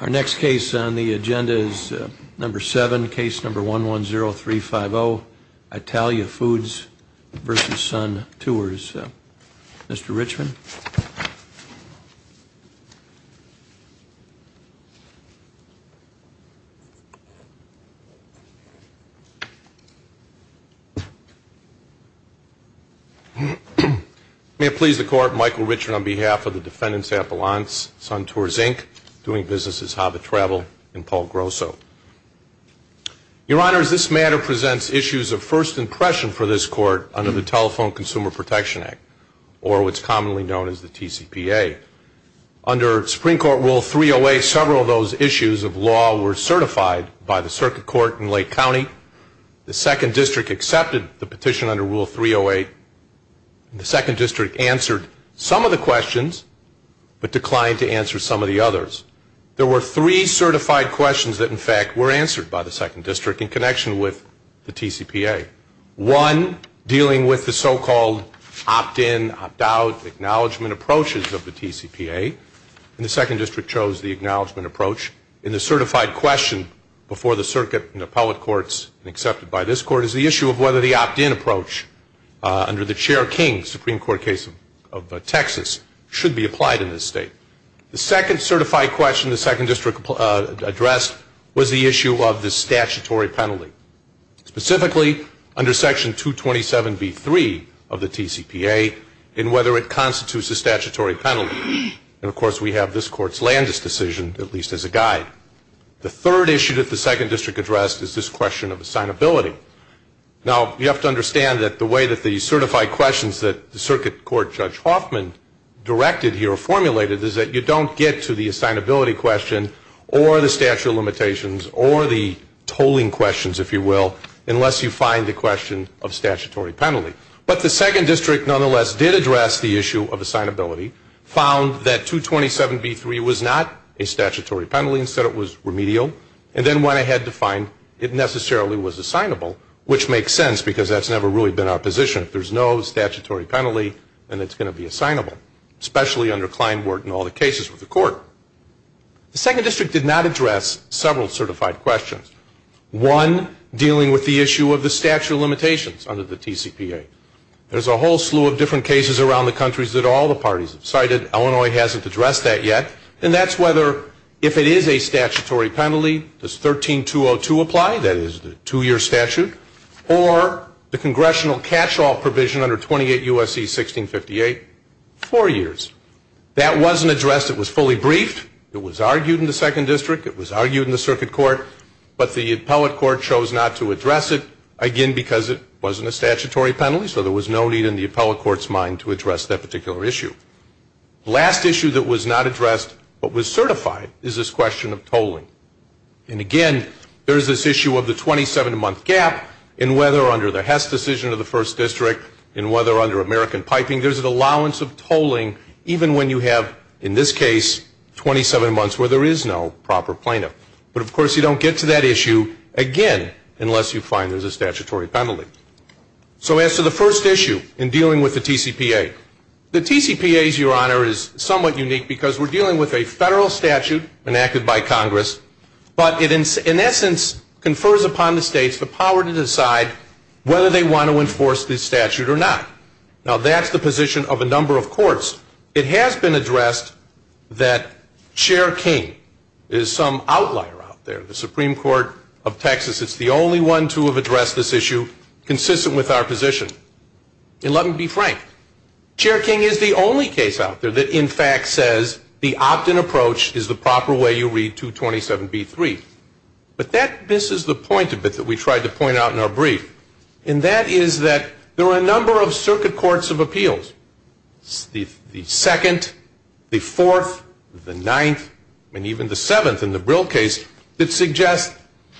Our next case on the agenda is number 7, case number 110350, Italia Foods v. Sun Tours. Mr. Richman. May it please the Court, Michael Richman on behalf of the Defendants Appellants, Sun Tours, Inc., Doing Business as Hobbit Travel, and Paul Grosso. Your Honors, this matter presents issues of first impression for this Court under the Telephone Consumer Protection Act, or what's commonly known as the TCPA. Under Supreme Court Rule 308, several of those issues of law were certified by the Circuit Court in Lake County. The 2nd District accepted the petition under Rule 308. The 2nd District answered some of the questions but declined to answer some of the others. There were three certified questions that, in fact, were answered by the 2nd District in connection with the TCPA. One dealing with the so-called opt-in, opt-out, acknowledgement approaches of the TCPA, and the 2nd District chose the acknowledgement approach. And the certified question before the Circuit and Appellate Courts and accepted by this Court is the issue of whether the opt-in approach under the Chair King Supreme Court case of Texas should be applied in this State. The second certified question the 2nd District addressed was the issue of the statutory penalty. Specifically, under Section 227b3 of the TCPA, and whether it constitutes a statutory penalty. And, of course, we have this Court's Landis decision, at least as a guide. The third issue that the 2nd District addressed is this question of assignability. Now, you have to understand that the way that the certified questions that the Circuit Court Judge Hoffman directed here or formulated is that you don't get to the assignability question or the statute of limitations or the tolling questions, if you will, unless you find the question of statutory penalty. But the 2nd District nonetheless did address the issue of assignability, found that 227b3 was not a statutory penalty, instead it was remedial, and then went ahead to find it necessarily was assignable, which makes sense because that's never really been our position. If there's no statutory penalty, then it's going to be assignable, especially under Kleinwort and all the cases with the Court. The 2nd District did not address several certified questions. One, dealing with the issue of the statute of limitations under the TCPA. There's a whole slew of different cases around the countries that all the parties have cited. Illinois hasn't addressed that yet. And that's whether, if it is a statutory penalty, does 13202 apply? That is the two-year statute. Or the congressional catch-all provision under 28 U.S.C. 1658, four years. That wasn't addressed. It was fully briefed. It was argued in the 2nd District. It was argued in the Circuit Court. But the Appellate Court chose not to address it, again, because it wasn't a statutory penalty, so there was no need in the Appellate Court's mind to address that particular issue. The last issue that was not addressed but was certified is this question of tolling. And, again, there's this issue of the 27-month gap in whether, under the Hess decision of the 1st District and whether under American piping, there's an allowance of tolling even when you have, in this case, 27 months where there is no proper plaintiff. But, of course, you don't get to that issue, again, unless you find there's a statutory penalty. So as to the first issue in dealing with the TCPA, the TCPA, Your Honor, is somewhat unique because we're dealing with a federal statute enacted by Congress, but it, in essence, confers upon the states the power to decide whether they want to enforce this statute or not. Now, that's the position of a number of courts. It has been addressed that Chair King is some outlier out there. The Supreme Court of Texas is the only one to have addressed this issue consistent with our position. And let me be frank, Chair King is the only case out there that, in fact, says the opt-in approach is the proper way you read 227b-3. But that misses the point a bit that we tried to point out in our brief, and that is that there are a number of circuit courts of appeals, the 2nd, the 4th, the 9th, and even the 7th in the Brill case that suggest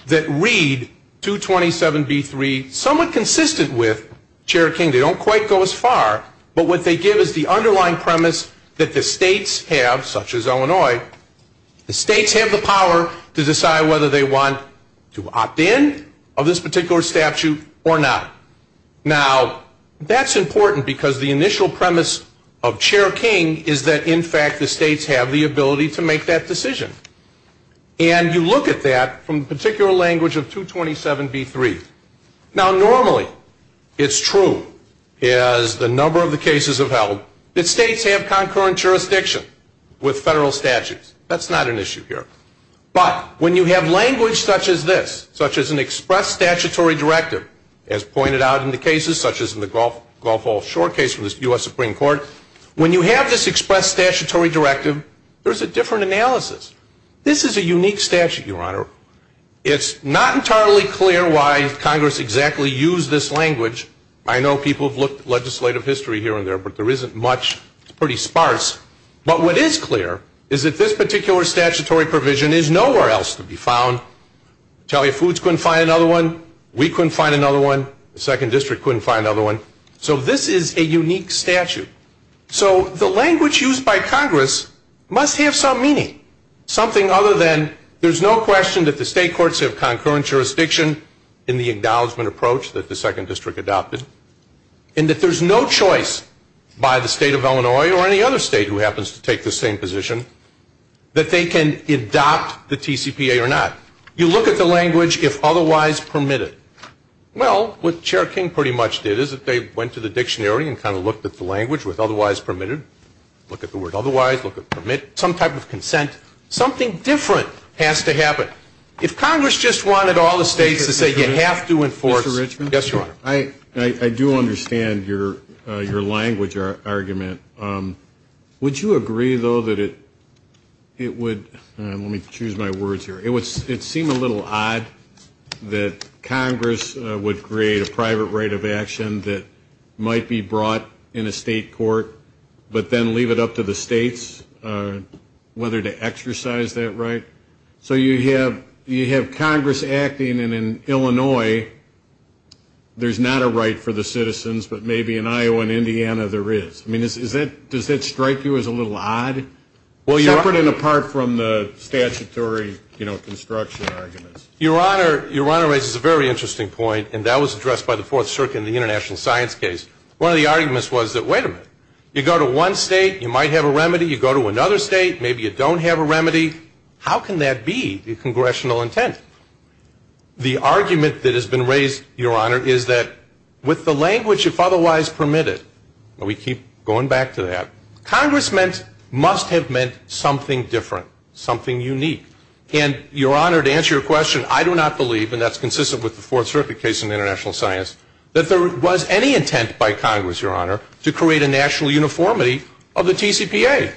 that read 227b-3 somewhat consistent with, Chair King, they don't quite go as far, but what they give is the underlying premise that the states have, such as Illinois, the states have the power to decide whether they want to opt-in of this particular statute or not. Now, that's important because the initial premise of Chair King is that, in fact, the states have the ability to make that decision. And you look at that from the particular language of 227b-3. Now, normally it's true, as the number of the cases have held, that states have concurrent jurisdiction with federal statutes. That's not an issue here. But when you have language such as this, such as an express statutory directive, as pointed out in the cases such as in the Gulf Wall Shore case from the U.S. Supreme Court, when you have this express statutory directive, there's a different analysis. This is a unique statute, Your Honor. It's not entirely clear why Congress exactly used this language. I know people have looked at legislative history here and there, but there isn't much. It's pretty sparse. But what is clear is that this particular statutory provision is nowhere else to be found. Italian Foods couldn't find another one. We couldn't find another one. The Second District couldn't find another one. So this is a unique statute. So the language used by Congress must have some meaning, something other than there's no question that the state courts have concurrent jurisdiction in the acknowledgment approach that the Second District adopted, and that there's no choice by the state of Illinois or any other state who happens to take the same position that they can adopt the TCPA or not. You look at the language, if otherwise permitted. Well, what Chair King pretty much did is that they went to the dictionary and kind of looked at the language with otherwise permitted. Look at the word otherwise. Look at permitted. Some type of consent. Something different has to happen. If Congress just wanted all the states to say you have to enforce. Mr. Richmond? Yes, Your Honor. I do understand your language argument. Would you agree, though, that it would seem a little odd that Congress would create a private right of action that might be brought in a state court but then leave it up to the states whether to exercise that right? So you have Congress acting, and in Illinois there's not a right for the citizens, but maybe in Iowa and Indiana there is. I mean, does that strike you as a little odd? Well, Your Honor. Separate and apart from the statutory, you know, construction arguments. Your Honor raises a very interesting point, and that was addressed by the Fourth Circuit in the international science case. One of the arguments was that, wait a minute, you go to one state, you might have a remedy. You go to another state, maybe you don't have a remedy. How can that be the congressional intent? The argument that has been raised, Your Honor, is that with the language if otherwise permitted, and we keep going back to that, Congress must have meant something different, something unique. And, Your Honor, to answer your question, I do not believe, and that's consistent with the Fourth Circuit case in international science, that there was any intent by Congress, Your Honor, to create a national uniformity of the TCPA.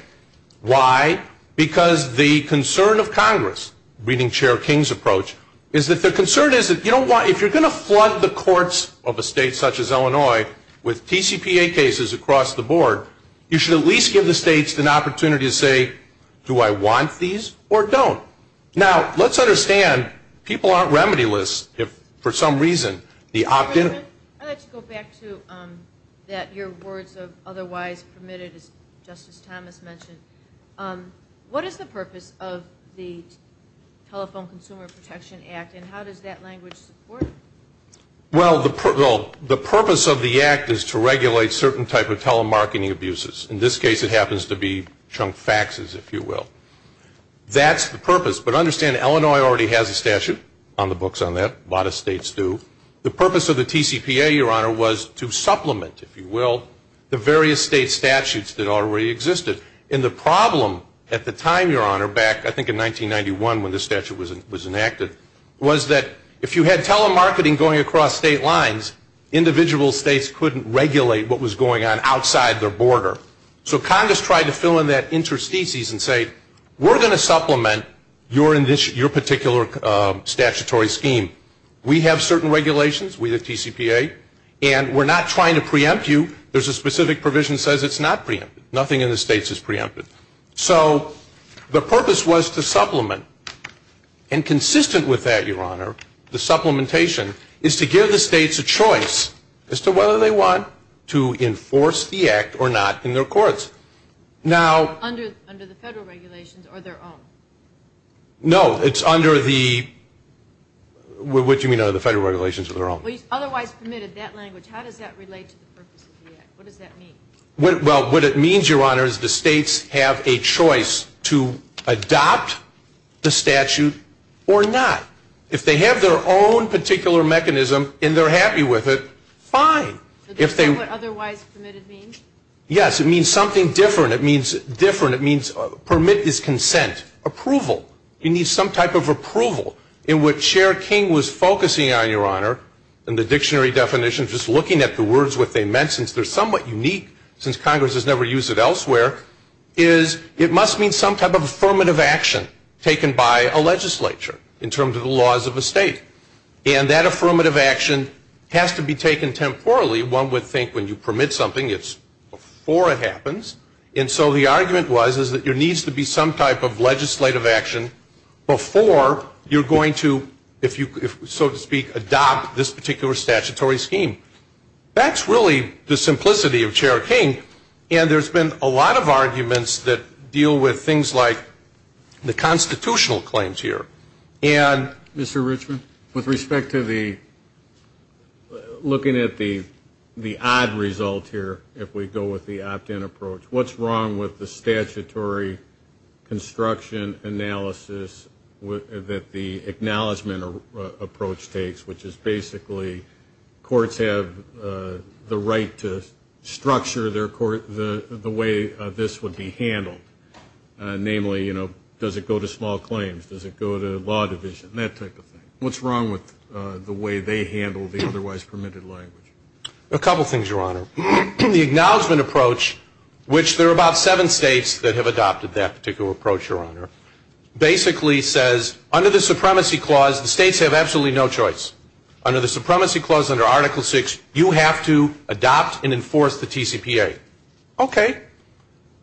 Why? Because the concern of Congress, reading Chair King's approach, is that the concern is that if you're going to flood the courts of a state such as Illinois with TCPA cases across the board, you should at least give the states an opportunity to say, do I want these or don't? Now, let's understand, people aren't remedy-less if for some reason the opt-in. I'd like to go back to that your words of otherwise permitted, as Justice Thomas mentioned. What is the purpose of the Telephone Consumer Protection Act, and how does that language support it? Well, the purpose of the act is to regulate certain type of telemarketing abuses. In this case, it happens to be chunk faxes, if you will. That's the purpose. But understand, Illinois already has a statute on the books on that. A lot of states do. The purpose of the TCPA, Your Honor, was to supplement, if you will, the various state statutes that already existed. And the problem at the time, Your Honor, back I think in 1991 when this statute was enacted, was that if you had telemarketing going across state lines, individual states couldn't regulate what was going on outside their border. So Congress tried to fill in that interstices and say, we're going to supplement your particular statutory scheme. We have certain regulations. We have TCPA. And we're not trying to preempt you. There's a specific provision that says it's not preempted. Nothing in the states is preempted. So the purpose was to supplement. And consistent with that, Your Honor, the supplementation is to give the states a choice as to whether they want to enforce the act or not in their courts. Under the federal regulations or their own? No, it's under the federal regulations or their own. Otherwise permitted, that language, how does that relate to the purpose of the act? What does that mean? Well, what it means, Your Honor, is the states have a choice to adopt the statute or not. If they have their own particular mechanism and they're happy with it, fine. Is that what otherwise permitted means? Yes, it means something different. It means different. It means permit is consent. Approval. You need some type of approval. And what Chair King was focusing on, Your Honor, in the dictionary definition, just looking at the words, what they meant, since they're somewhat unique, since Congress has never used it elsewhere, is it must mean some type of affirmative action taken by a legislature in terms of the laws of a state. And that affirmative action has to be taken temporally. One would think when you permit something, it's before it happens. And so the argument was is that there needs to be some type of legislative action before you're going to, so to speak, adopt this particular statutory scheme. That's really the simplicity of Chair King. And there's been a lot of arguments that deal with things like the constitutional claims here. And, Mr. Richmond, with respect to the looking at the odd result here, if we go with the opt-in approach, what's wrong with the statutory construction analysis that the acknowledgement approach takes, which is basically courts have the right to structure the way this would be handled. Namely, does it go to small claims? Does it go to law division? That type of thing. What's wrong with the way they handle the otherwise permitted language? A couple things, Your Honor. The acknowledgement approach, which there are about seven states that have adopted that particular approach, Your Honor, basically says under the supremacy clause, the states have absolutely no choice. Under the supremacy clause, under Article VI, you have to adopt and enforce the TCPA. Okay.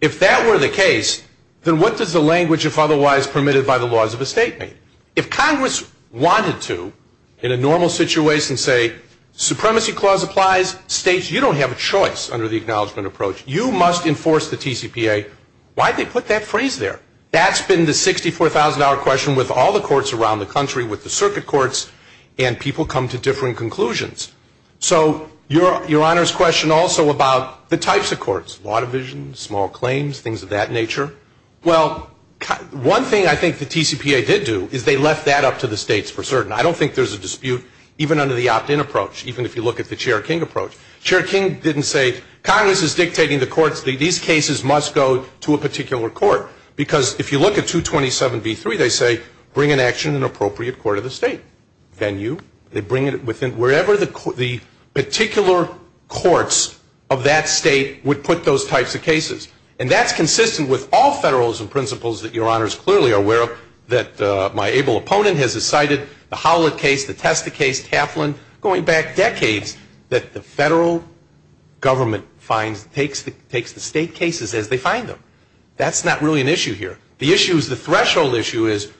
If that were the case, then what does the language, if otherwise permitted by the laws of a state, mean? If Congress wanted to, in a normal situation, say supremacy clause applies, states, you don't have a choice under the acknowledgement approach. You must enforce the TCPA. Why did they put that phrase there? That's been the $64,000 question with all the courts around the country, with the circuit courts, and people come to differing conclusions. So Your Honor's question also about the types of courts, law division, small claims, things of that nature. Well, one thing I think the TCPA did do is they left that up to the states for certain. I don't think there's a dispute even under the opt-in approach, even if you look at the Chair King approach. Chair King didn't say Congress is dictating the courts. These cases must go to a particular court because if you look at 227b3, they say bring in action in an appropriate court of the state. Then you. They bring it within wherever the particular courts of that state would put those types of cases. And that's consistent with all federalism principles that Your Honor is clearly aware of, that my able opponent has decided, the Howlett case, the Testa case, Kaplan, going back decades, that the federal government takes the state cases as they find them. That's not really an issue here. The issue is the threshold issue is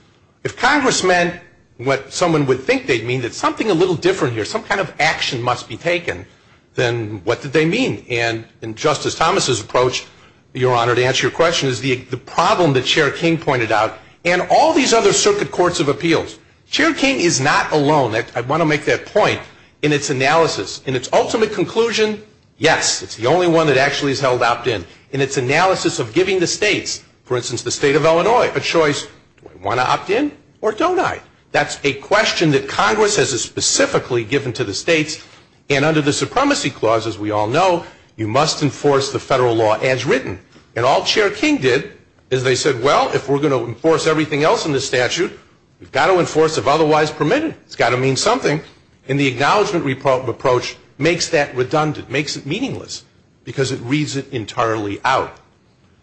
if Congress meant what someone would think they'd mean, that something a little different here, some kind of action must be taken, then what did they mean? And in Justice Thomas's approach, Your Honor, to answer your question, is the problem that Chair King pointed out and all these other circuit courts of appeals. Chair King is not alone. I want to make that point in its analysis. In its ultimate conclusion, yes, it's the only one that actually is held opt-in. In its analysis of giving the states, for instance, the state of Illinois, a choice, do I want to opt in or don't I? That's a question that Congress has specifically given to the states. And under the Supremacy Clause, as we all know, you must enforce the federal law as written. And all Chair King did is they said, well, if we're going to enforce everything else in the statute, we've got to enforce if otherwise permitted. It's got to mean something. And the acknowledgment approach makes that redundant, makes it meaningless, because it reads it entirely out.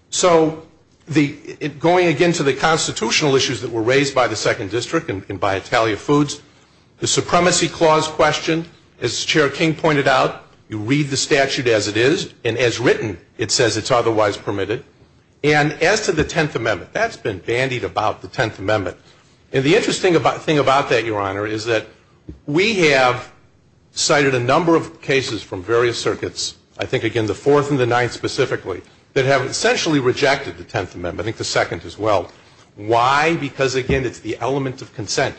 So going again to the constitutional issues that were raised by the Second District and by Italia Foods, the Supremacy Clause question, as Chair King pointed out, you read the statute as it is, and as written, it says it's otherwise permitted. And as to the Tenth Amendment, that's been bandied about, the Tenth Amendment. And the interesting thing about that, Your Honor, is that we have cited a number of cases from various circuits, I think, again, the Fourth and the Ninth specifically, that have essentially rejected the Tenth Amendment, I think the Second as well. Why? Because, again, it's the element of consent.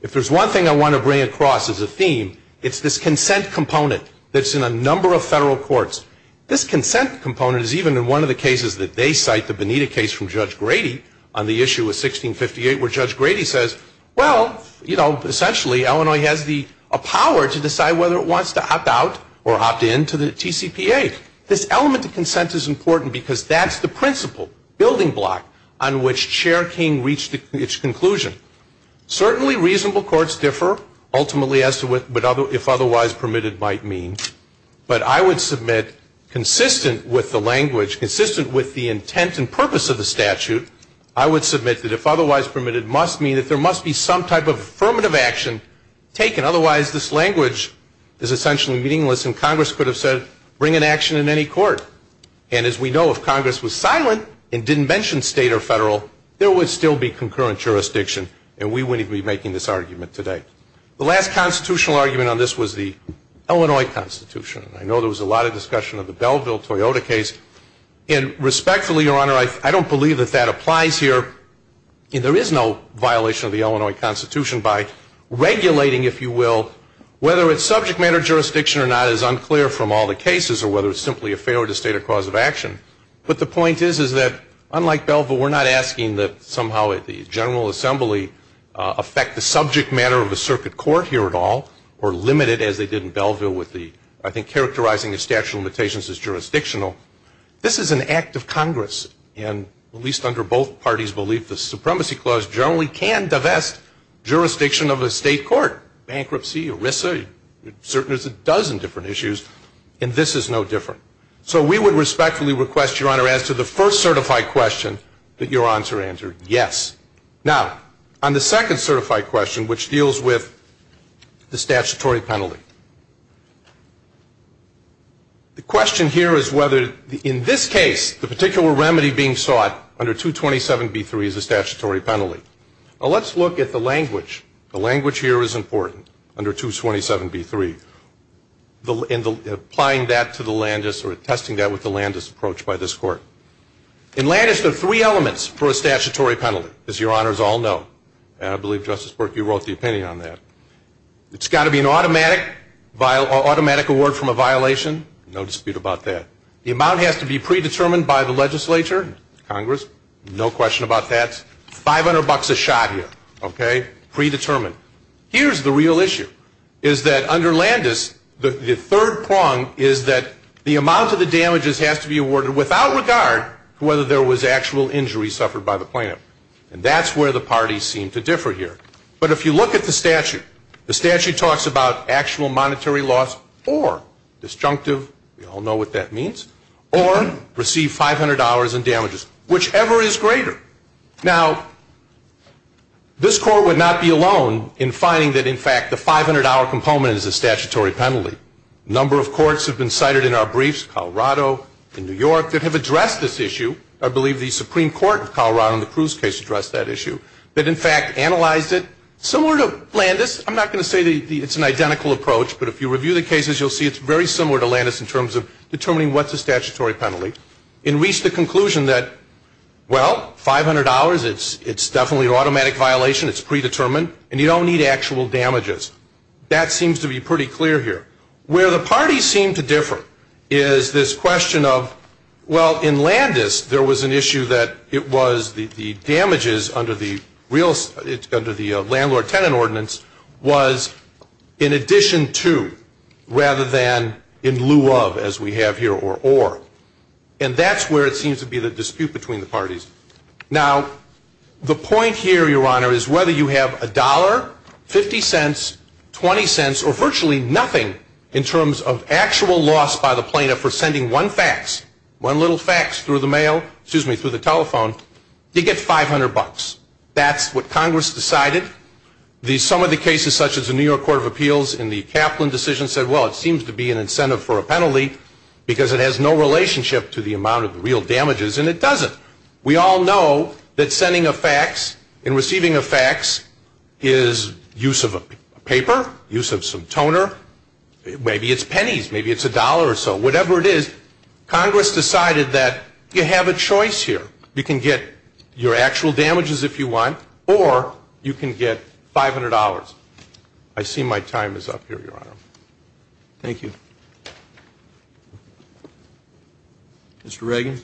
If there's one thing I want to bring across as a theme, it's this consent component that's in a number of federal courts. This consent component is even in one of the cases that they cite, the Bonita case from Judge Grady, on the issue of 1658, where Judge Grady says, well, you know, essentially, Illinois has the power to decide whether it wants to opt out or opt in to the TCPA. This element of consent is important because that's the principle, building block, on which Chair King reached its conclusion. Certainly, reasonable courts differ, ultimately, as to what if otherwise permitted might mean. But I would submit, consistent with the language, consistent with the intent and purpose of the statute, I would submit that if otherwise permitted must mean that there must be some type of affirmative action taken. Otherwise, this language is essentially meaningless, and Congress could have said, bring an action in any court. And as we know, if Congress was silent and didn't mention state or federal, there would still be concurrent jurisdiction, and we wouldn't even be making this argument today. The last constitutional argument on this was the Illinois Constitution. I know there was a lot of discussion of the Belleville-Toyota case. And respectfully, Your Honor, I don't believe that that applies here. And there is no violation of the Illinois Constitution by regulating, if you will, whether it's subject matter jurisdiction or not is unclear from all the cases, or whether it's simply a failure to state a cause of action. But the point is, is that unlike Belleville, we're not asking that somehow the General Assembly affect the subject matter of the circuit court here at all, or limit it as they did in Belleville with the, I think, characterizing the statute of limitations as jurisdictional. This is an act of Congress, and at least under both parties' belief, the Supremacy Clause generally can divest jurisdiction of a state court. Bankruptcy, ERISA, there's a dozen different issues, and this is no different. So we would respectfully request, Your Honor, as to the first certified question, that your answer answered yes. Now, on the second certified question, which deals with the statutory penalty, the question here is whether, in this case, the particular remedy being sought under 227B3 is a statutory penalty. Well, let's look at the language. The language here is important under 227B3, and applying that to the Landis or testing that with the Landis approach by this Court. In Landis, there are three elements for a statutory penalty, as Your Honors all know, and I believe, Justice Burke, you wrote the opinion on that. It's got to be an automatic award from a violation. No dispute about that. The amount has to be predetermined by the legislature, Congress, no question about that. Five hundred bucks a shot here, okay, predetermined. Here's the real issue, is that under Landis, the third prong is that the amount of the damages has to be awarded without regard to whether there was actual injury suffered by the plaintiff, and that's where the parties seem to differ here. But if you look at the statute, the statute talks about actual monetary loss or disjunctive, we all know what that means, or receive $500 in damages, whichever is greater. Now, this Court would not be alone in finding that, in fact, the $500 component is a statutory penalty. A number of courts have been cited in our briefs, Colorado and New York, that have addressed this issue. I believe the Supreme Court of Colorado in the Cruz case addressed that issue, that, in fact, analyzed it. Similar to Landis, I'm not going to say it's an identical approach, but if you review the cases, you'll see it's very similar to Landis in terms of determining what's a statutory penalty, and reached the conclusion that, well, $500, it's definitely an automatic violation, it's predetermined, and you don't need actual damages. That seems to be pretty clear here. Where the parties seem to differ is this question of, well, in Landis, there was an issue that it was the damages under the landlord-tenant ordinance was in addition to, rather than in lieu of, as we have here, or or. And that's where it seems to be the dispute between the parties. Now, the point here, Your Honor, is whether you have a dollar, 50 cents, 20 cents, or virtually nothing in terms of actual loss by the plaintiff for sending one fax, one little fax through the mail, excuse me, through the telephone, you get 500 bucks. That's what Congress decided. Some of the cases, such as the New York Court of Appeals and the Kaplan decision, said, well, it seems to be an incentive for a penalty, because it has no relationship to the amount of the real damages, and it doesn't. We all know that sending a fax and receiving a fax is use of a paper, use of some toner. Maybe it's pennies. Maybe it's a dollar or so. Whatever it is, Congress decided that you have a choice here. You can get your actual damages if you want, or you can get $500. I see my time is up here, Your Honor. Thank you. Mr. Reagan.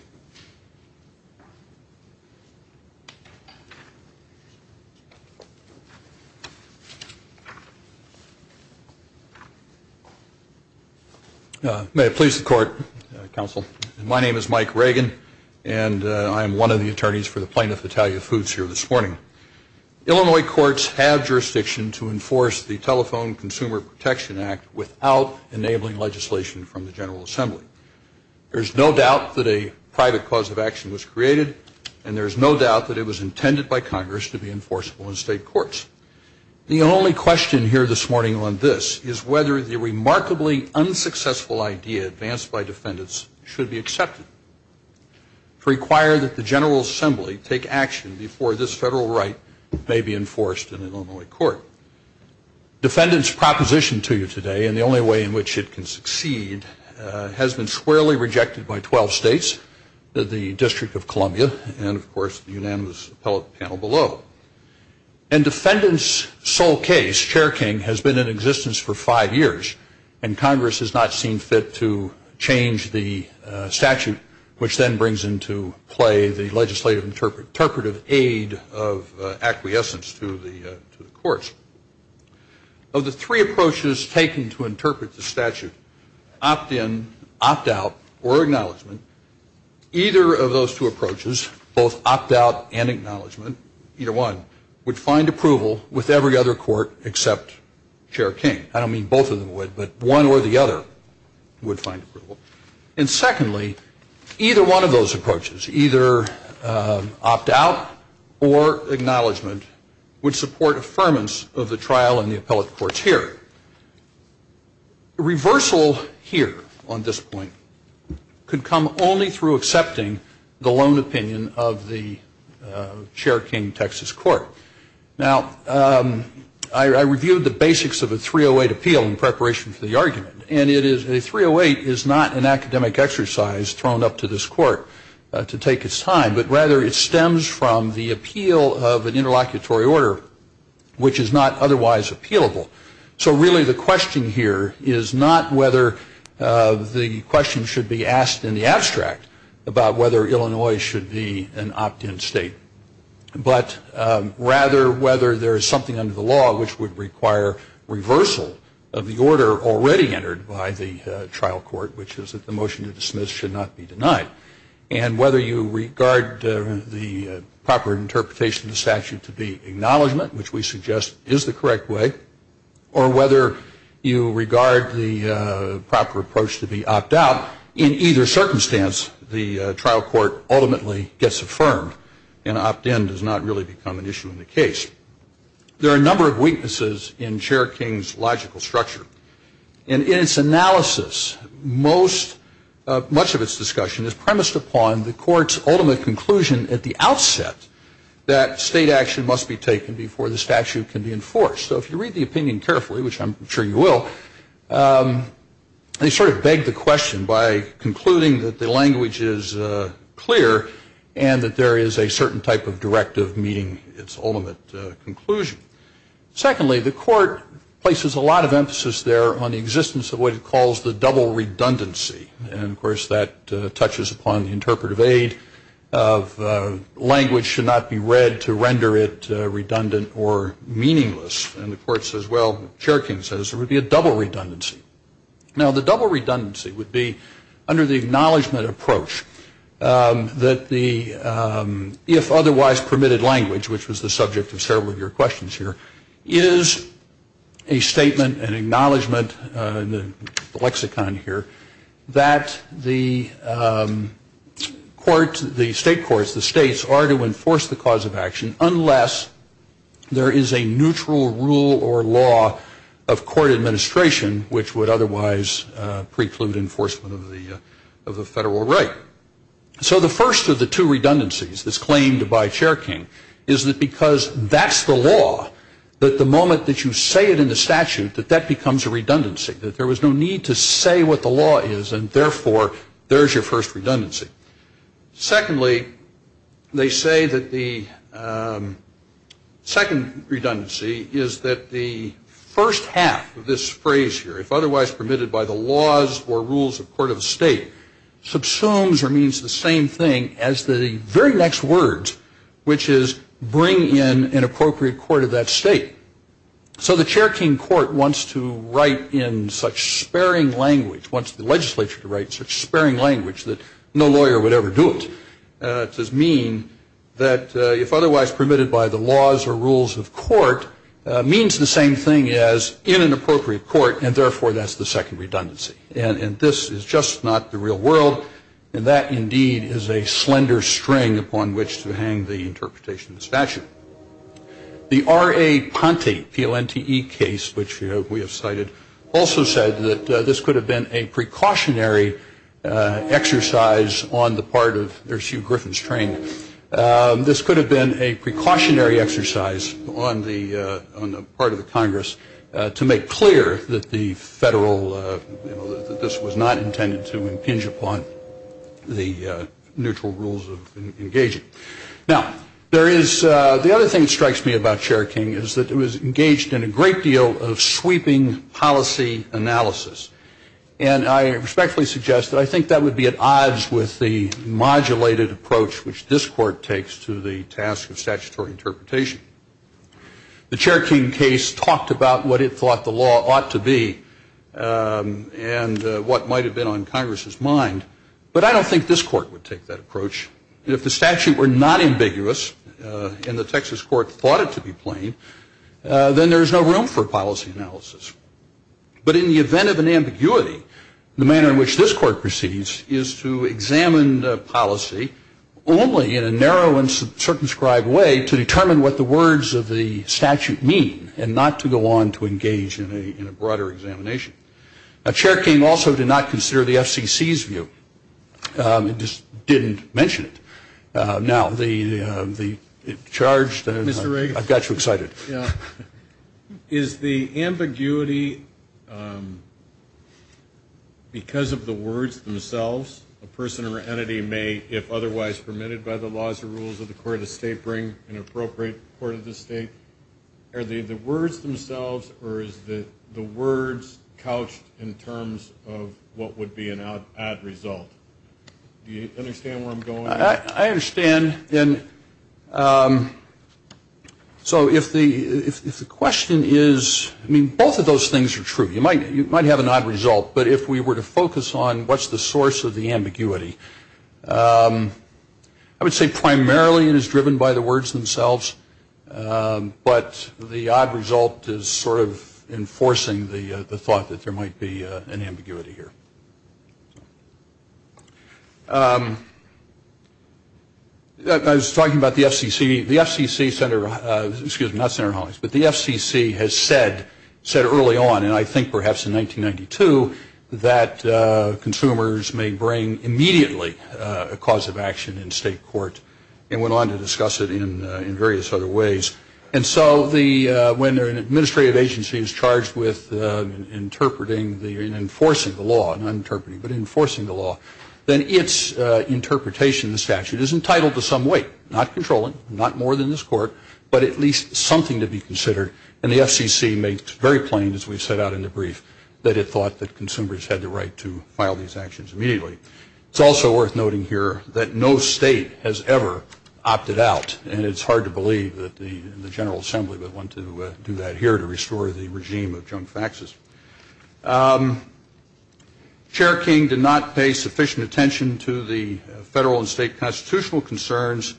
May it please the Court, Counsel. My name is Mike Reagan, and I am one of the attorneys for the plaintiff, Italia Foods, here this morning. Illinois courts have jurisdiction to enforce the Telephone Consumer Protection Act without enabling legislation from the General Assembly. There is no doubt that a private cause of action was created, and there is no doubt that it was intended by Congress to be enforceable in state courts. The only question here this morning on this is whether the remarkably unsuccessful idea advanced by defendants should be accepted to require that the General Assembly take action before this federal right may be enforced in an Illinois court. Defendants' proposition to you today, and the only way in which it can succeed, has been squarely rejected by 12 states, the District of Columbia, and, of course, the unanimous appellate panel below. And defendants' sole case, Chair King, has been in existence for five years, and Congress has not seen fit to change the statute, which then brings into play the legislative interpretive aid of acquiescence to the courts. Of the three approaches taken to interpret the statute, opt-in, opt-out, or acknowledgement, either of those two approaches, both opt-out and acknowledgement, either one, would find approval with every other court except Chair King. I don't mean both of them would, but one or the other would find approval. And secondly, either one of those approaches, either opt-out or acknowledgement, would support affirmance of the trial in the appellate courts here. Reversal here on this point could come only through accepting the lone opinion of the Chair King Texas Court. Now, I reviewed the basics of a 308 appeal in preparation for the argument, and a 308 is not an academic exercise thrown up to this court to take its time, but rather it stems from the appeal of an interlocutory order, which is not otherwise appealable. So really the question here is not whether the question should be asked in the abstract about whether Illinois should be an opt-in state, but rather whether there is something under the law which would require reversal of the order already entered by the trial court, which is that the motion to dismiss should not be denied. And whether you regard the proper interpretation of the statute to be acknowledgement, which we suggest is the correct way, or whether you regard the proper approach to be opt-out, in either circumstance the trial court ultimately gets affirmed and opt-in does not really become an issue in the case. There are a number of weaknesses in Chair King's logical structure. In its analysis, much of its discussion is premised upon the court's ultimate conclusion at the outset that state action must be taken before the statute can be enforced. So if you read the opinion carefully, which I'm sure you will, they sort of beg the question by concluding that the language is clear and that there is a certain type of directive meeting its ultimate conclusion. Secondly, the court places a lot of emphasis there on the existence of what it calls the double redundancy. And, of course, that touches upon the interpretive aid of language should not be read to render it redundant or meaningless. And the court says, well, Chair King says, there would be a double redundancy. Now, the double redundancy would be, under the acknowledgement approach, that the if otherwise permitted language, which was the subject of several of your questions here, is a statement, an acknowledgement, the lexicon here, that the court, the state courts, the states are to enforce the cause of action unless there is a neutral rule or law of court administration which would otherwise preclude enforcement of the federal right. So the first of the two redundancies that's claimed by Chair King is that because that's the law, that the moment that you say it in the statute, that that becomes a redundancy, that there was no need to say what the law is and, therefore, there's your first redundancy. Secondly, they say that the second redundancy is that the first half of this phrase here, if otherwise permitted by the laws or rules of court of state, subsumes or means the same thing as the very next words, which is bring in an appropriate court of that state. So the Chair King court wants to write in such sparing language, wants the legislature to write such sparing language, that no lawyer would ever do it. It does mean that if otherwise permitted by the laws or rules of court means the same thing as in an appropriate court, and, therefore, that's the second redundancy. And this is just not the real world, and that, indeed, is a slender string upon which to hang the interpretation of the statute. The R.A. Ponte, P-O-N-T-E case, which we have cited, also said that this could have been a precautionary exercise on the part of, there's Hugh Griffin's train, this could have been a precautionary exercise on the part of the Congress to make clear that the federal, that this was not intended to impinge upon the neutral rules of engaging. Now, there is, the other thing that strikes me about Chair King is that it was engaged in a great deal of sweeping policy analysis. And I respectfully suggest that I think that would be at odds with the modulated approach, which this court takes to the task of statutory interpretation. The Chair King case talked about what it thought the law ought to be and what might have been on Congress's mind, but I don't think this court would take that approach. If the statute were not ambiguous and the Texas court thought it to be plain, then there's no room for policy analysis. But in the event of an ambiguity, the manner in which this court proceeds is to examine the policy only in a narrow and circumscribed way to determine what the words of the statute mean and not to go on to engage in a broader examination. Now, Chair King also did not consider the FCC's view. He just didn't mention it. Now, the charge, I've got you excited. Is the ambiguity because of the words themselves, a person or entity may, if otherwise permitted by the laws and rules of the court of the state, bring an appropriate court of the state? Are the words themselves or is the words couched in terms of what would be an odd result? Do you understand where I'm going? I understand. So if the question is, I mean, both of those things are true. You might have an odd result, but if we were to focus on what's the source of the ambiguity, I would say primarily it is driven by the words themselves, but the odd result is sort of enforcing the thought that there might be an ambiguity here. I was talking about the FCC. The FCC, Senator, excuse me, not Senator Hollings, but the FCC has said early on, and I think perhaps in 1992, that consumers may bring immediately a cause of action in state court and went on to discuss it in various other ways. And so when an administrative agency is charged with interpreting and enforcing the law, not interpreting but enforcing the law, then its interpretation of the statute is entitled to some weight, not controlling, not more than this court, but at least something to be considered. And the FCC makes it very plain, as we set out in the brief, that it thought that consumers had the right to file these actions immediately. It's also worth noting here that no state has ever opted out, and it's hard to believe that the General Assembly would want to do that here to restore the regime of junk faxes. Chair King did not pay sufficient attention to the federal and state constitutional concerns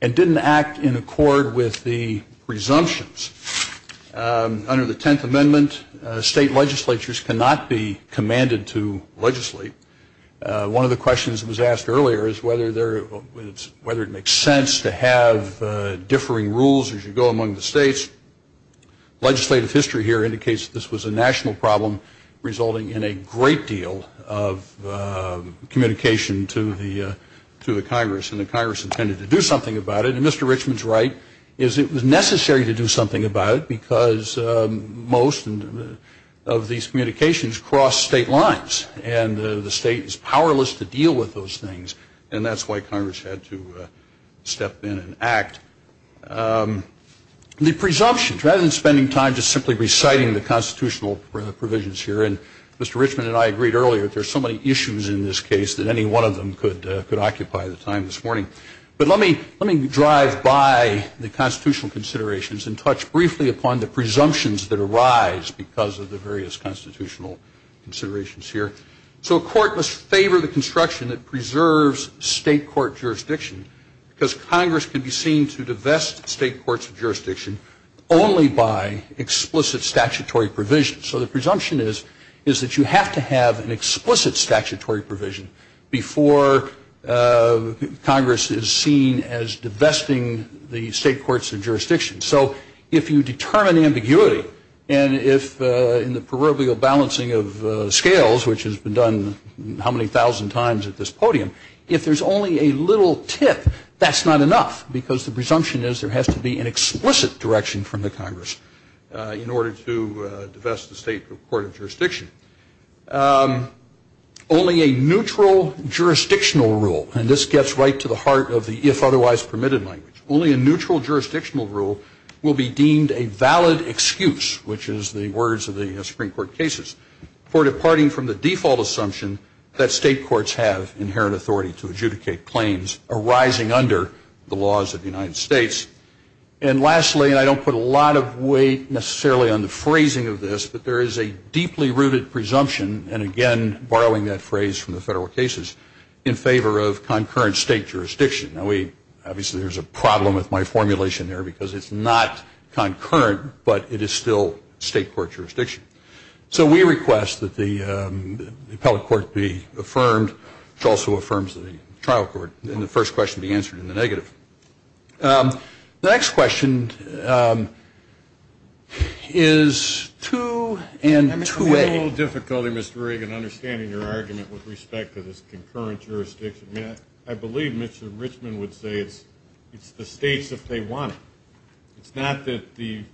and didn't act in accord with the presumptions. Under the Tenth Amendment, state legislatures cannot be commanded to legislate. One of the questions that was asked earlier is whether it makes sense to have differing rules as you go among the states. Legislative history here indicates that this was a national problem resulting in a great deal of communication to the Congress, and the Congress intended to do something about it. And Mr. Richman's right is it was necessary to do something about it because most of these communications cross state lines, and the state is powerless to deal with those things. And that's why Congress had to step in and act. The presumptions, rather than spending time just simply reciting the constitutional provisions here, and Mr. Richman and I agreed earlier that there are so many issues in this case that any one of them could occupy the time this morning. But let me drive by the constitutional considerations and touch briefly upon the presumptions that arise because of the various constitutional considerations here. So a court must favor the construction that preserves state court jurisdiction because Congress can be seen to divest state courts of jurisdiction only by explicit statutory provisions. So the presumption is that you have to have an explicit statutory provision before Congress is seen as divesting the state courts of jurisdiction. So if you determine ambiguity, and if in the proverbial balancing of scales, which has been done how many thousand times at this podium, if there's only a little tip, that's not enough, because the presumption is there has to be an explicit direction from the Congress in order to divest the state court of jurisdiction. Only a neutral jurisdictional rule, and this gets right to the heart of the if otherwise permitted language, only a neutral jurisdictional rule will be deemed a valid excuse, which is the words of the Supreme Court cases, for departing from the default assumption that state courts have inherent authority to adjudicate claims arising under the laws of the United States. And lastly, and I don't put a lot of weight necessarily on the phrasing of this, but there is a deeply rooted presumption, and again borrowing that phrase from the federal cases, in favor of concurrent state jurisdiction. Now we, obviously there's a problem with my formulation there because it's not concurrent, but it is still state court jurisdiction. So we request that the appellate court be affirmed, which also affirms the trial court, and the first question be answered in the negative. The next question is 2 and 2A. I'm having a little difficulty, Mr. Reagan, understanding your argument with respect to this concurrent jurisdiction. I believe Mr. Richmond would say it's the states if they want it. It's not that the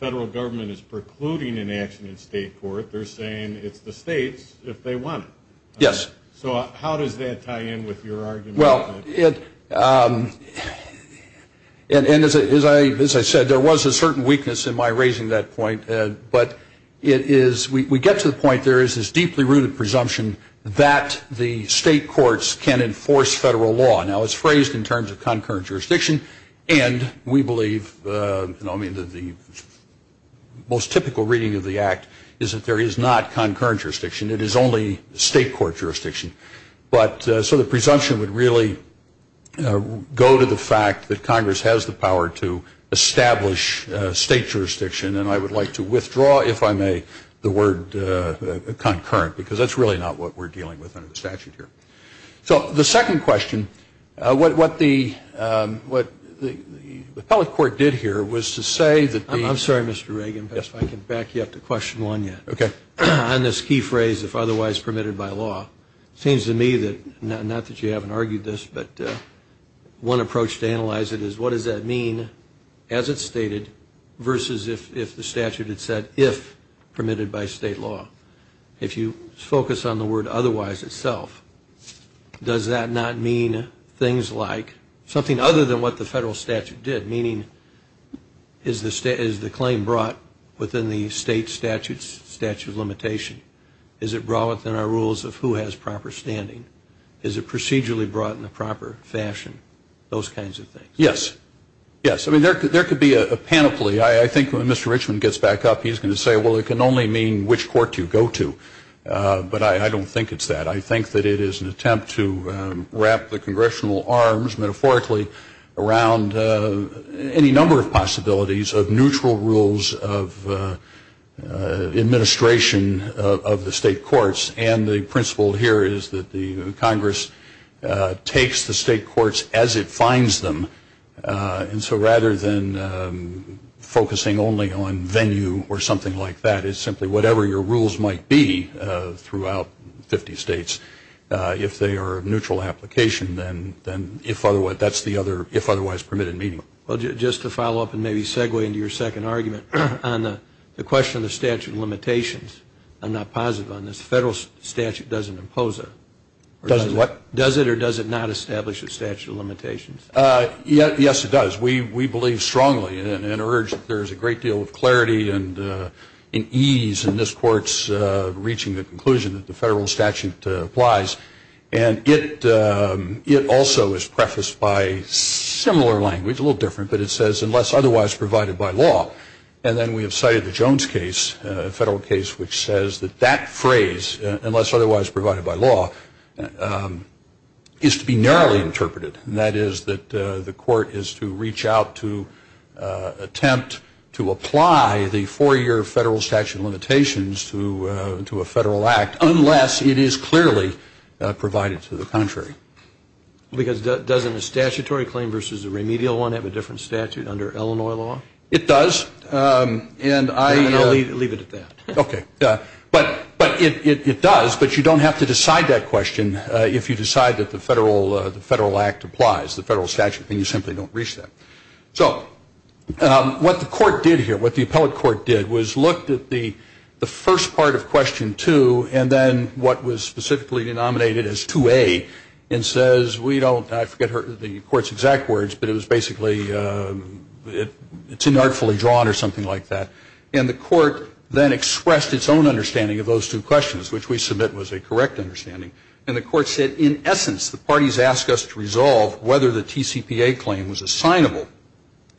federal government is precluding an action in state court. They're saying it's the states if they want it. Yes. So how does that tie in with your argument? Well, as I said, there was a certain weakness in my raising that point, but we get to the point there is this deeply rooted presumption that the state courts can enforce federal law. Now it's phrased in terms of concurrent jurisdiction, and we believe the most typical reading of the Act is that there is not concurrent jurisdiction. It is only state court jurisdiction. So the presumption would really go to the fact that Congress has the power to establish state jurisdiction, and I would like to withdraw, if I may, the word concurrent, because that's really not what we're dealing with under the statute here. So the second question, what the appellate court did here was to say that the ---- I'm sorry, Mr. Reagan, but if I can back you up to question one yet. Okay. On this key phrase, if otherwise permitted by law, it seems to me that, not that you haven't argued this, but one approach to analyze it is what does that mean as it's stated versus if the statute had said if permitted by state law. If you focus on the word otherwise itself, does that not mean things like something other than what the federal statute did, meaning is the claim brought within the state statute's statute of limitation? Is it brought within our rules of who has proper standing? Is it procedurally brought in the proper fashion? Those kinds of things. Yes. Yes. I mean, there could be a panoply. I think when Mr. Richmond gets back up, he's going to say, well, it can only mean which court you go to. But I don't think it's that. I think that it is an attempt to wrap the congressional arms, metaphorically, around any number of possibilities of neutral rules of administration of the state courts. And the principle here is that the Congress takes the state courts as it finds them. And so rather than focusing only on venue or something like that, it's simply whatever your rules might be throughout 50 states, if they are of neutral application, then that's the other if otherwise permitted meaning. Well, just to follow up and maybe segue into your second argument on the question of the statute of limitations, I'm not positive on this, the federal statute doesn't impose it. Doesn't what? Does it or does it not establish a statute of limitations? Yes, it does. We believe strongly and urge that there is a great deal of clarity and ease in this court's reaching the conclusion that the federal statute applies. And it also is prefaced by similar language, a little different, but it says unless otherwise provided by law. And then we have cited the Jones case, a federal case, which says that that phrase, unless otherwise provided by law, is to be narrowly interpreted. And that is that the court is to reach out to attempt to apply the four-year federal statute of limitations to a federal act, unless it is clearly provided to the contrary. Because doesn't a statutory claim versus a remedial one have a different statute under Illinois law? It does. And I'll leave it at that. Okay. But it does, but you don't have to decide that question if you decide that the federal act applies, the federal statute, and you simply don't reach that. So what the court did here, what the appellate court did, was looked at the first part of question two and then what was specifically denominated as 2A and says we don't, I forget the court's exact words, but it was basically, it's inartfully drawn or something like that. And the court then expressed its own understanding of those two questions, which we submit was a correct understanding. And the court said, in essence, the parties ask us to resolve whether the TCPA claim was assignable,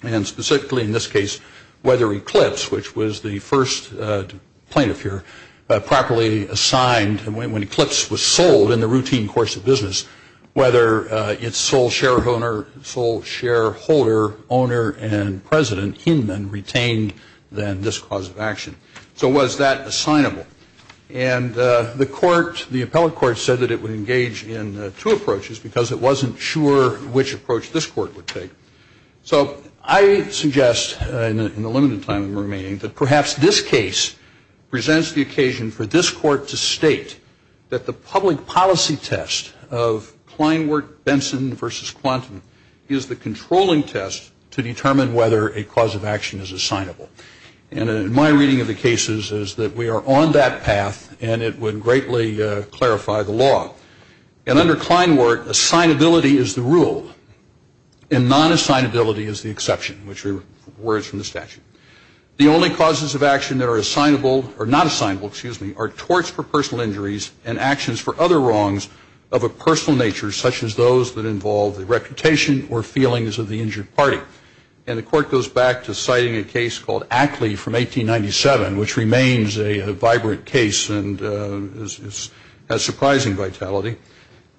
and specifically in this case whether Eclipse, which was the first plaintiff here, properly assigned when Eclipse was sold in the routine course of business, whether its sole shareholder, owner, and president, Inman, retained then this cause of action. So was that assignable? And the court, the appellate court, said that it would engage in two approaches because it wasn't sure which approach this court would take. So I suggest in the limited time remaining that perhaps this case presents the occasion for this court to state that the public policy test of Kleinwert-Benson v. Quantum is the controlling test to determine whether a cause of action is assignable. And in my reading of the cases is that we are on that path, and it would greatly clarify the law. And under Kleinwert, assignability is the rule, and non-assignability is the exception, which are words from the statute. The only causes of action that are not assignable are torts for personal injuries and actions for other wrongs of a personal nature, such as those that involve the reputation or feelings of the injured party. And the court goes back to citing a case called Ackley from 1897, which remains a vibrant case and has surprising vitality.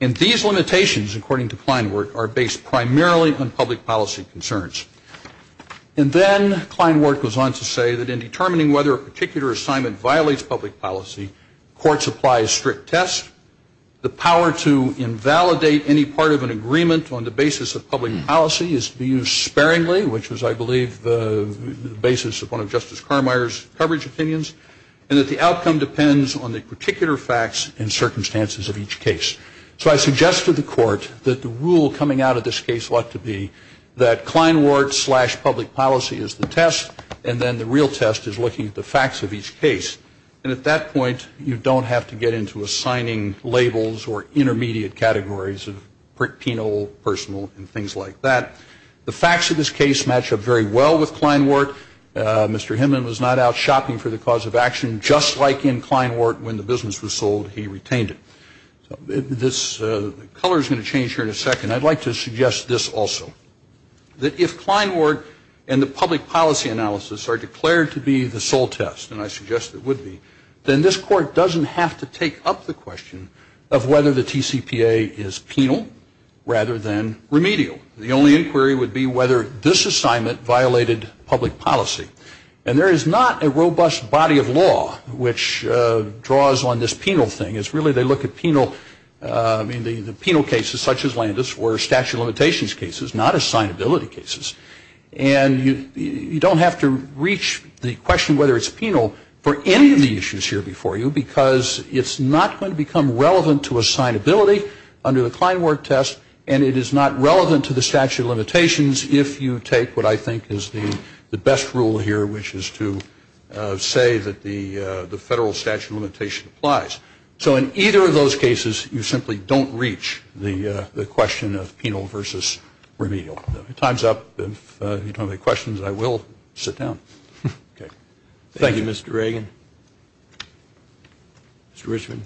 And these limitations, according to Kleinwert, are based primarily on public policy concerns. And then Kleinwert goes on to say that in determining whether a particular assignment violates public policy, courts apply a strict test. The power to invalidate any part of an agreement on the basis of public policy is to be used sparingly, which was, I believe, the basis of one of Justice Carmier's coverage opinions, and that the outcome depends on the particular facts and circumstances of each case. So I suggest to the court that the rule coming out of this case ought to be that Kleinwert slash public policy is the test, and then the real test is looking at the facts of each case. And at that point, you don't have to get into assigning labels or intermediate categories of penal, personal, and things like that. The facts of this case match up very well with Kleinwert. Mr. Himman was not out shopping for the cause of action, just like in Kleinwert when the business was sold, he retained it. This color is going to change here in a second. I'd like to suggest this also, that if Kleinwert and the public policy analysis are declared to be the sole test, and I suggest it would be, then this court doesn't have to take up the question of whether the TCPA is penal rather than remedial. The only inquiry would be whether this assignment violated public policy. And there is not a robust body of law which draws on this penal thing. It's really they look at penal cases such as Landis or statute of limitations cases, not assignability cases. And you don't have to reach the question whether it's penal for any of the issues here before you because it's not going to become relevant to assignability under the Kleinwert test, and it is not relevant to the statute of limitations if you take what I think is the best rule here, which is to say that the federal statute of limitation applies. So in either of those cases, you simply don't reach the question of penal versus remedial. Time's up. If you don't have any questions, I will sit down. Okay. Thank you, Mr. Reagan. Mr. Richmond.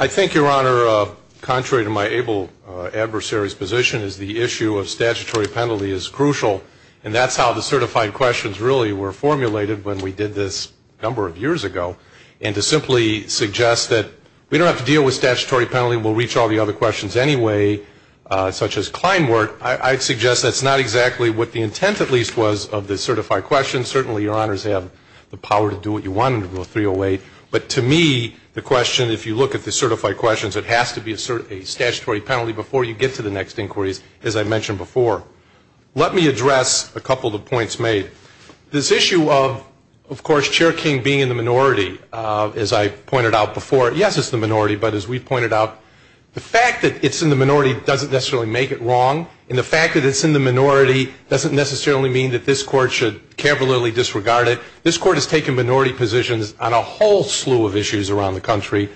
I think, Your Honor, contrary to my able adversary's position, is the issue of statutory penalty is crucial, and that's how the certified questions really were formulated when we did this a number of years ago. And to simply suggest that we don't have to deal with statutory penalty, we'll reach all the other questions anyway, such as Kleinwert, I'd suggest that's not exactly what the intent at least was of the certified questions. Certainly, Your Honors have the power to do what you want under Rule 308. But to me, the question, if you look at the certified questions, it has to be a statutory penalty before you get to the next inquiries, as I mentioned before. Let me address a couple of the points made. This issue of, of course, Chair King being in the minority, as I pointed out before, yes, it's the minority, but as we pointed out, the fact that it's in the minority doesn't necessarily make it wrong, and the fact that it's in the minority doesn't necessarily mean that this Court should cavalierly disregard it. This Court has taken minority positions on a whole slew of issues around the country,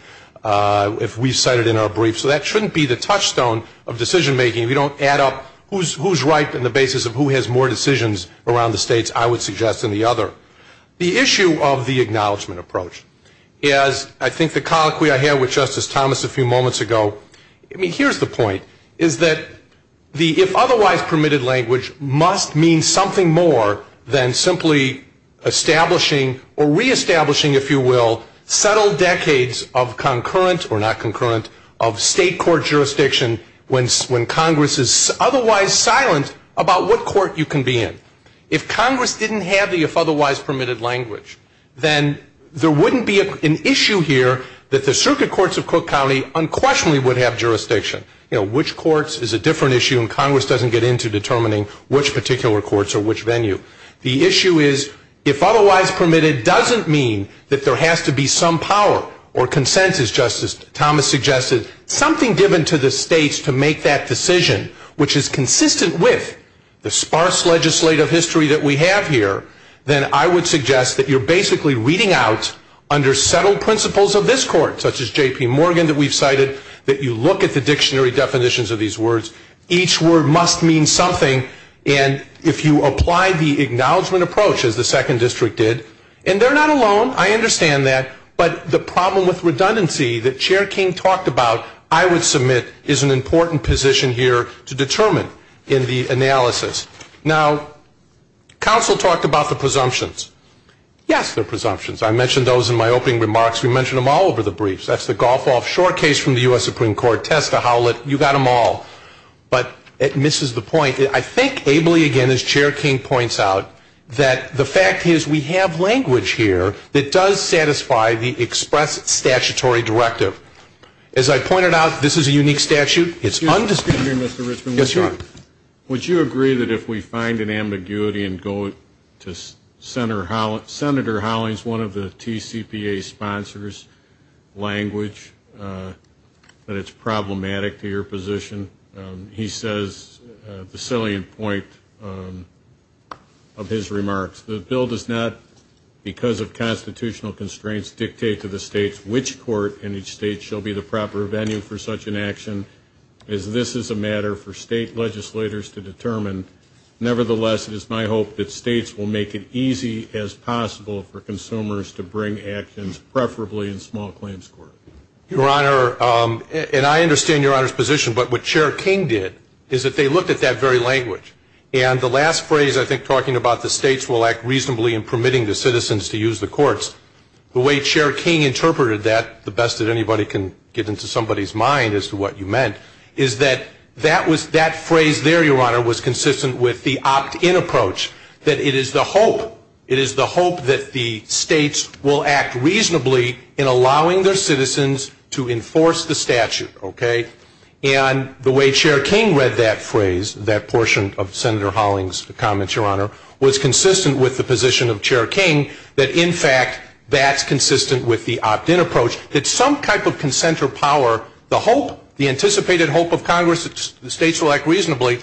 if we cite it in our brief. So that shouldn't be the touchstone of decision-making. We don't add up who's right on the basis of who has more decisions around the states, I would suggest, than the other. The issue of the acknowledgment approach is, I think the colloquy I had with Justice Thomas a few moments ago, I mean, here's the point, is that the if otherwise permitted language must mean something more than simply establishing or reestablishing, if you will, settled decades of concurrent, or not concurrent, of state court jurisdiction when Congress is otherwise silent about what court you can be in. If Congress didn't have the if otherwise permitted language, then there wouldn't be an issue here that the circuit courts of Cook County unquestionably would have jurisdiction. You know, which courts is a different issue, and Congress doesn't get into determining which particular courts or which venue. The issue is, if otherwise permitted doesn't mean that there has to be some power or consensus, Justice Thomas suggested, something given to the states to make that decision, which is consistent with the sparse legislative history that we have here, then I would suggest that you're basically reading out under settled principles of this court, such as J.P. Morgan that we've cited, that you look at the dictionary definitions of these words. Each word must mean something, and if you apply the acknowledgment approach, as the Second District did, and they're not alone, I understand that, but the problem with redundancy that Chair King talked about, I would submit, is an important position here to determine in the analysis. Now, counsel talked about the presumptions. Yes, there are presumptions. I mentioned those in my opening remarks. We mentioned them all over the briefs. That's the golf-off short case from the U.S. Supreme Court. Testa, Howlett, you got them all. But it misses the point. I think ably, again, as Chair King points out, that the fact is we have language here that does satisfy the express statutory directive. As I pointed out, this is a unique statute. It's undisputed. Excuse me, Mr. Richman. Yes, Your Honor. Would you agree that if we find an ambiguity and go to Senator Howlett, Senator Howlett is one of the TCPA sponsors, language, that it's problematic to your position? He says the salient point of his remarks. The bill does not, because of constitutional constraints, dictate to the states which court in each state shall be the proper venue for such an action, as this is a matter for state legislators to determine. Nevertheless, it is my hope that states will make it easy as possible for consumers to bring actions, preferably in small claims court. Your Honor, and I understand Your Honor's position, but what Chair King did is that they looked at that very language. And the last phrase, I think, talking about the states will act reasonably in permitting the citizens to use the courts, the way Chair King interpreted that, the best that anybody can get into somebody's mind as to what you meant, is that that phrase there, Your Honor, was consistent with the opt-in approach, that it is the hope, that the states will act reasonably in allowing their citizens to enforce the statute, okay? And the way Chair King read that phrase, that portion of Senator Hollings' comments, Your Honor, was consistent with the position of Chair King, that in fact, that's consistent with the opt-in approach, that some type of consent or power, the hope, the anticipated hope of Congress, the states will act reasonably,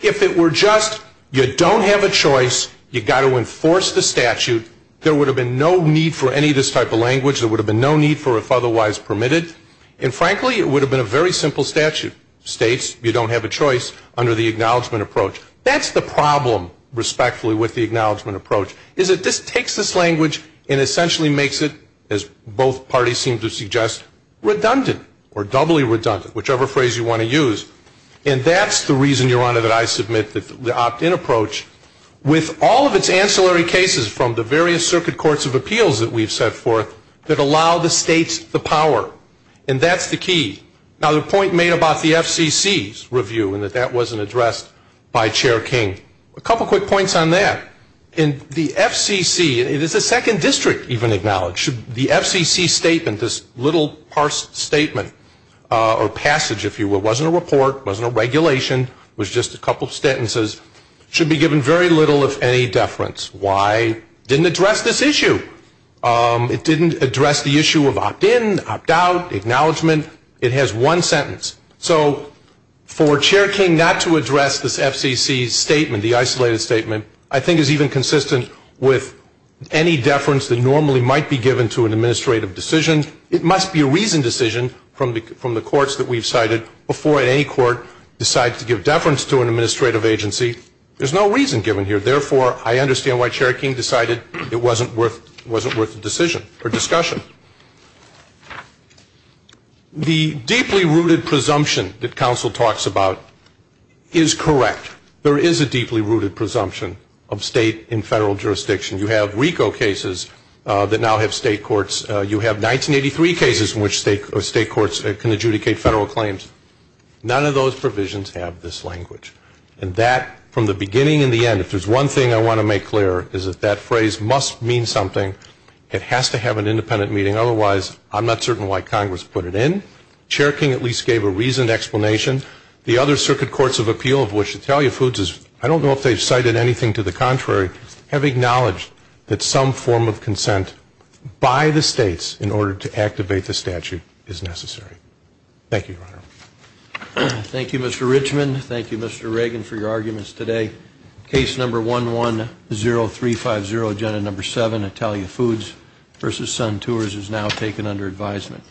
if it were just, you don't have a choice, you've got to enforce the statute, there would have been no need for any of this type of language, there would have been no need for if otherwise permitted, and frankly, it would have been a very simple statute, states, you don't have a choice, under the acknowledgement approach. That's the problem, respectfully, with the acknowledgement approach, is that this takes this language and essentially makes it, as both parties seem to suggest, redundant, or doubly redundant, whichever phrase you want to use, and that's the reason, Your Honor, that I submit that the opt-in approach, with all of its ancillary cases from the various circuit courts of appeals that we've set forth, that allow the states the power, and that's the key. Now, the point made about the FCC's review, and that that wasn't addressed by Chair King, a couple quick points on that, in the FCC, it is the second district even acknowledged, that the FCC statement, this little, parsed statement, or passage, if you will, it wasn't a report, it wasn't a regulation, it was just a couple of sentences, should be given very little, if any, deference. Why? It didn't address this issue. It didn't address the issue of opt-in, opt-out, acknowledgement, it has one sentence. So, for Chair King not to address this FCC's statement, the isolated statement, I think is even consistent with any deference that normally might be given to an administrative decision. It must be a reasoned decision from the courts that we've cited, before any court decides to give deference to an administrative agency. There's no reason given here, therefore, I understand why Chair King decided it wasn't worth the decision, or discussion. The deeply rooted presumption that counsel talks about is correct. There is a deeply rooted presumption of state and federal jurisdiction. You have RICO cases that now have state courts. You have 1983 cases in which state courts can adjudicate federal claims. None of those provisions have this language. And that, from the beginning and the end, if there's one thing I want to make clear, is that that phrase must mean something. It has to have an independent meaning, otherwise, I'm not certain why Congress put it in. Chair King at least gave a reasoned explanation. The other circuit courts of appeal of which Italia Foods is, I don't know if they've cited anything to the contrary, have acknowledged that some form of consent by the states in order to activate the statute is necessary. Thank you, Your Honor. Thank you, Mr. Richman. Thank you, Mr. Reagan, for your arguments today. Case number 110350, agenda number 7, Italia Foods v. Sun Tours, is now taken under advisement.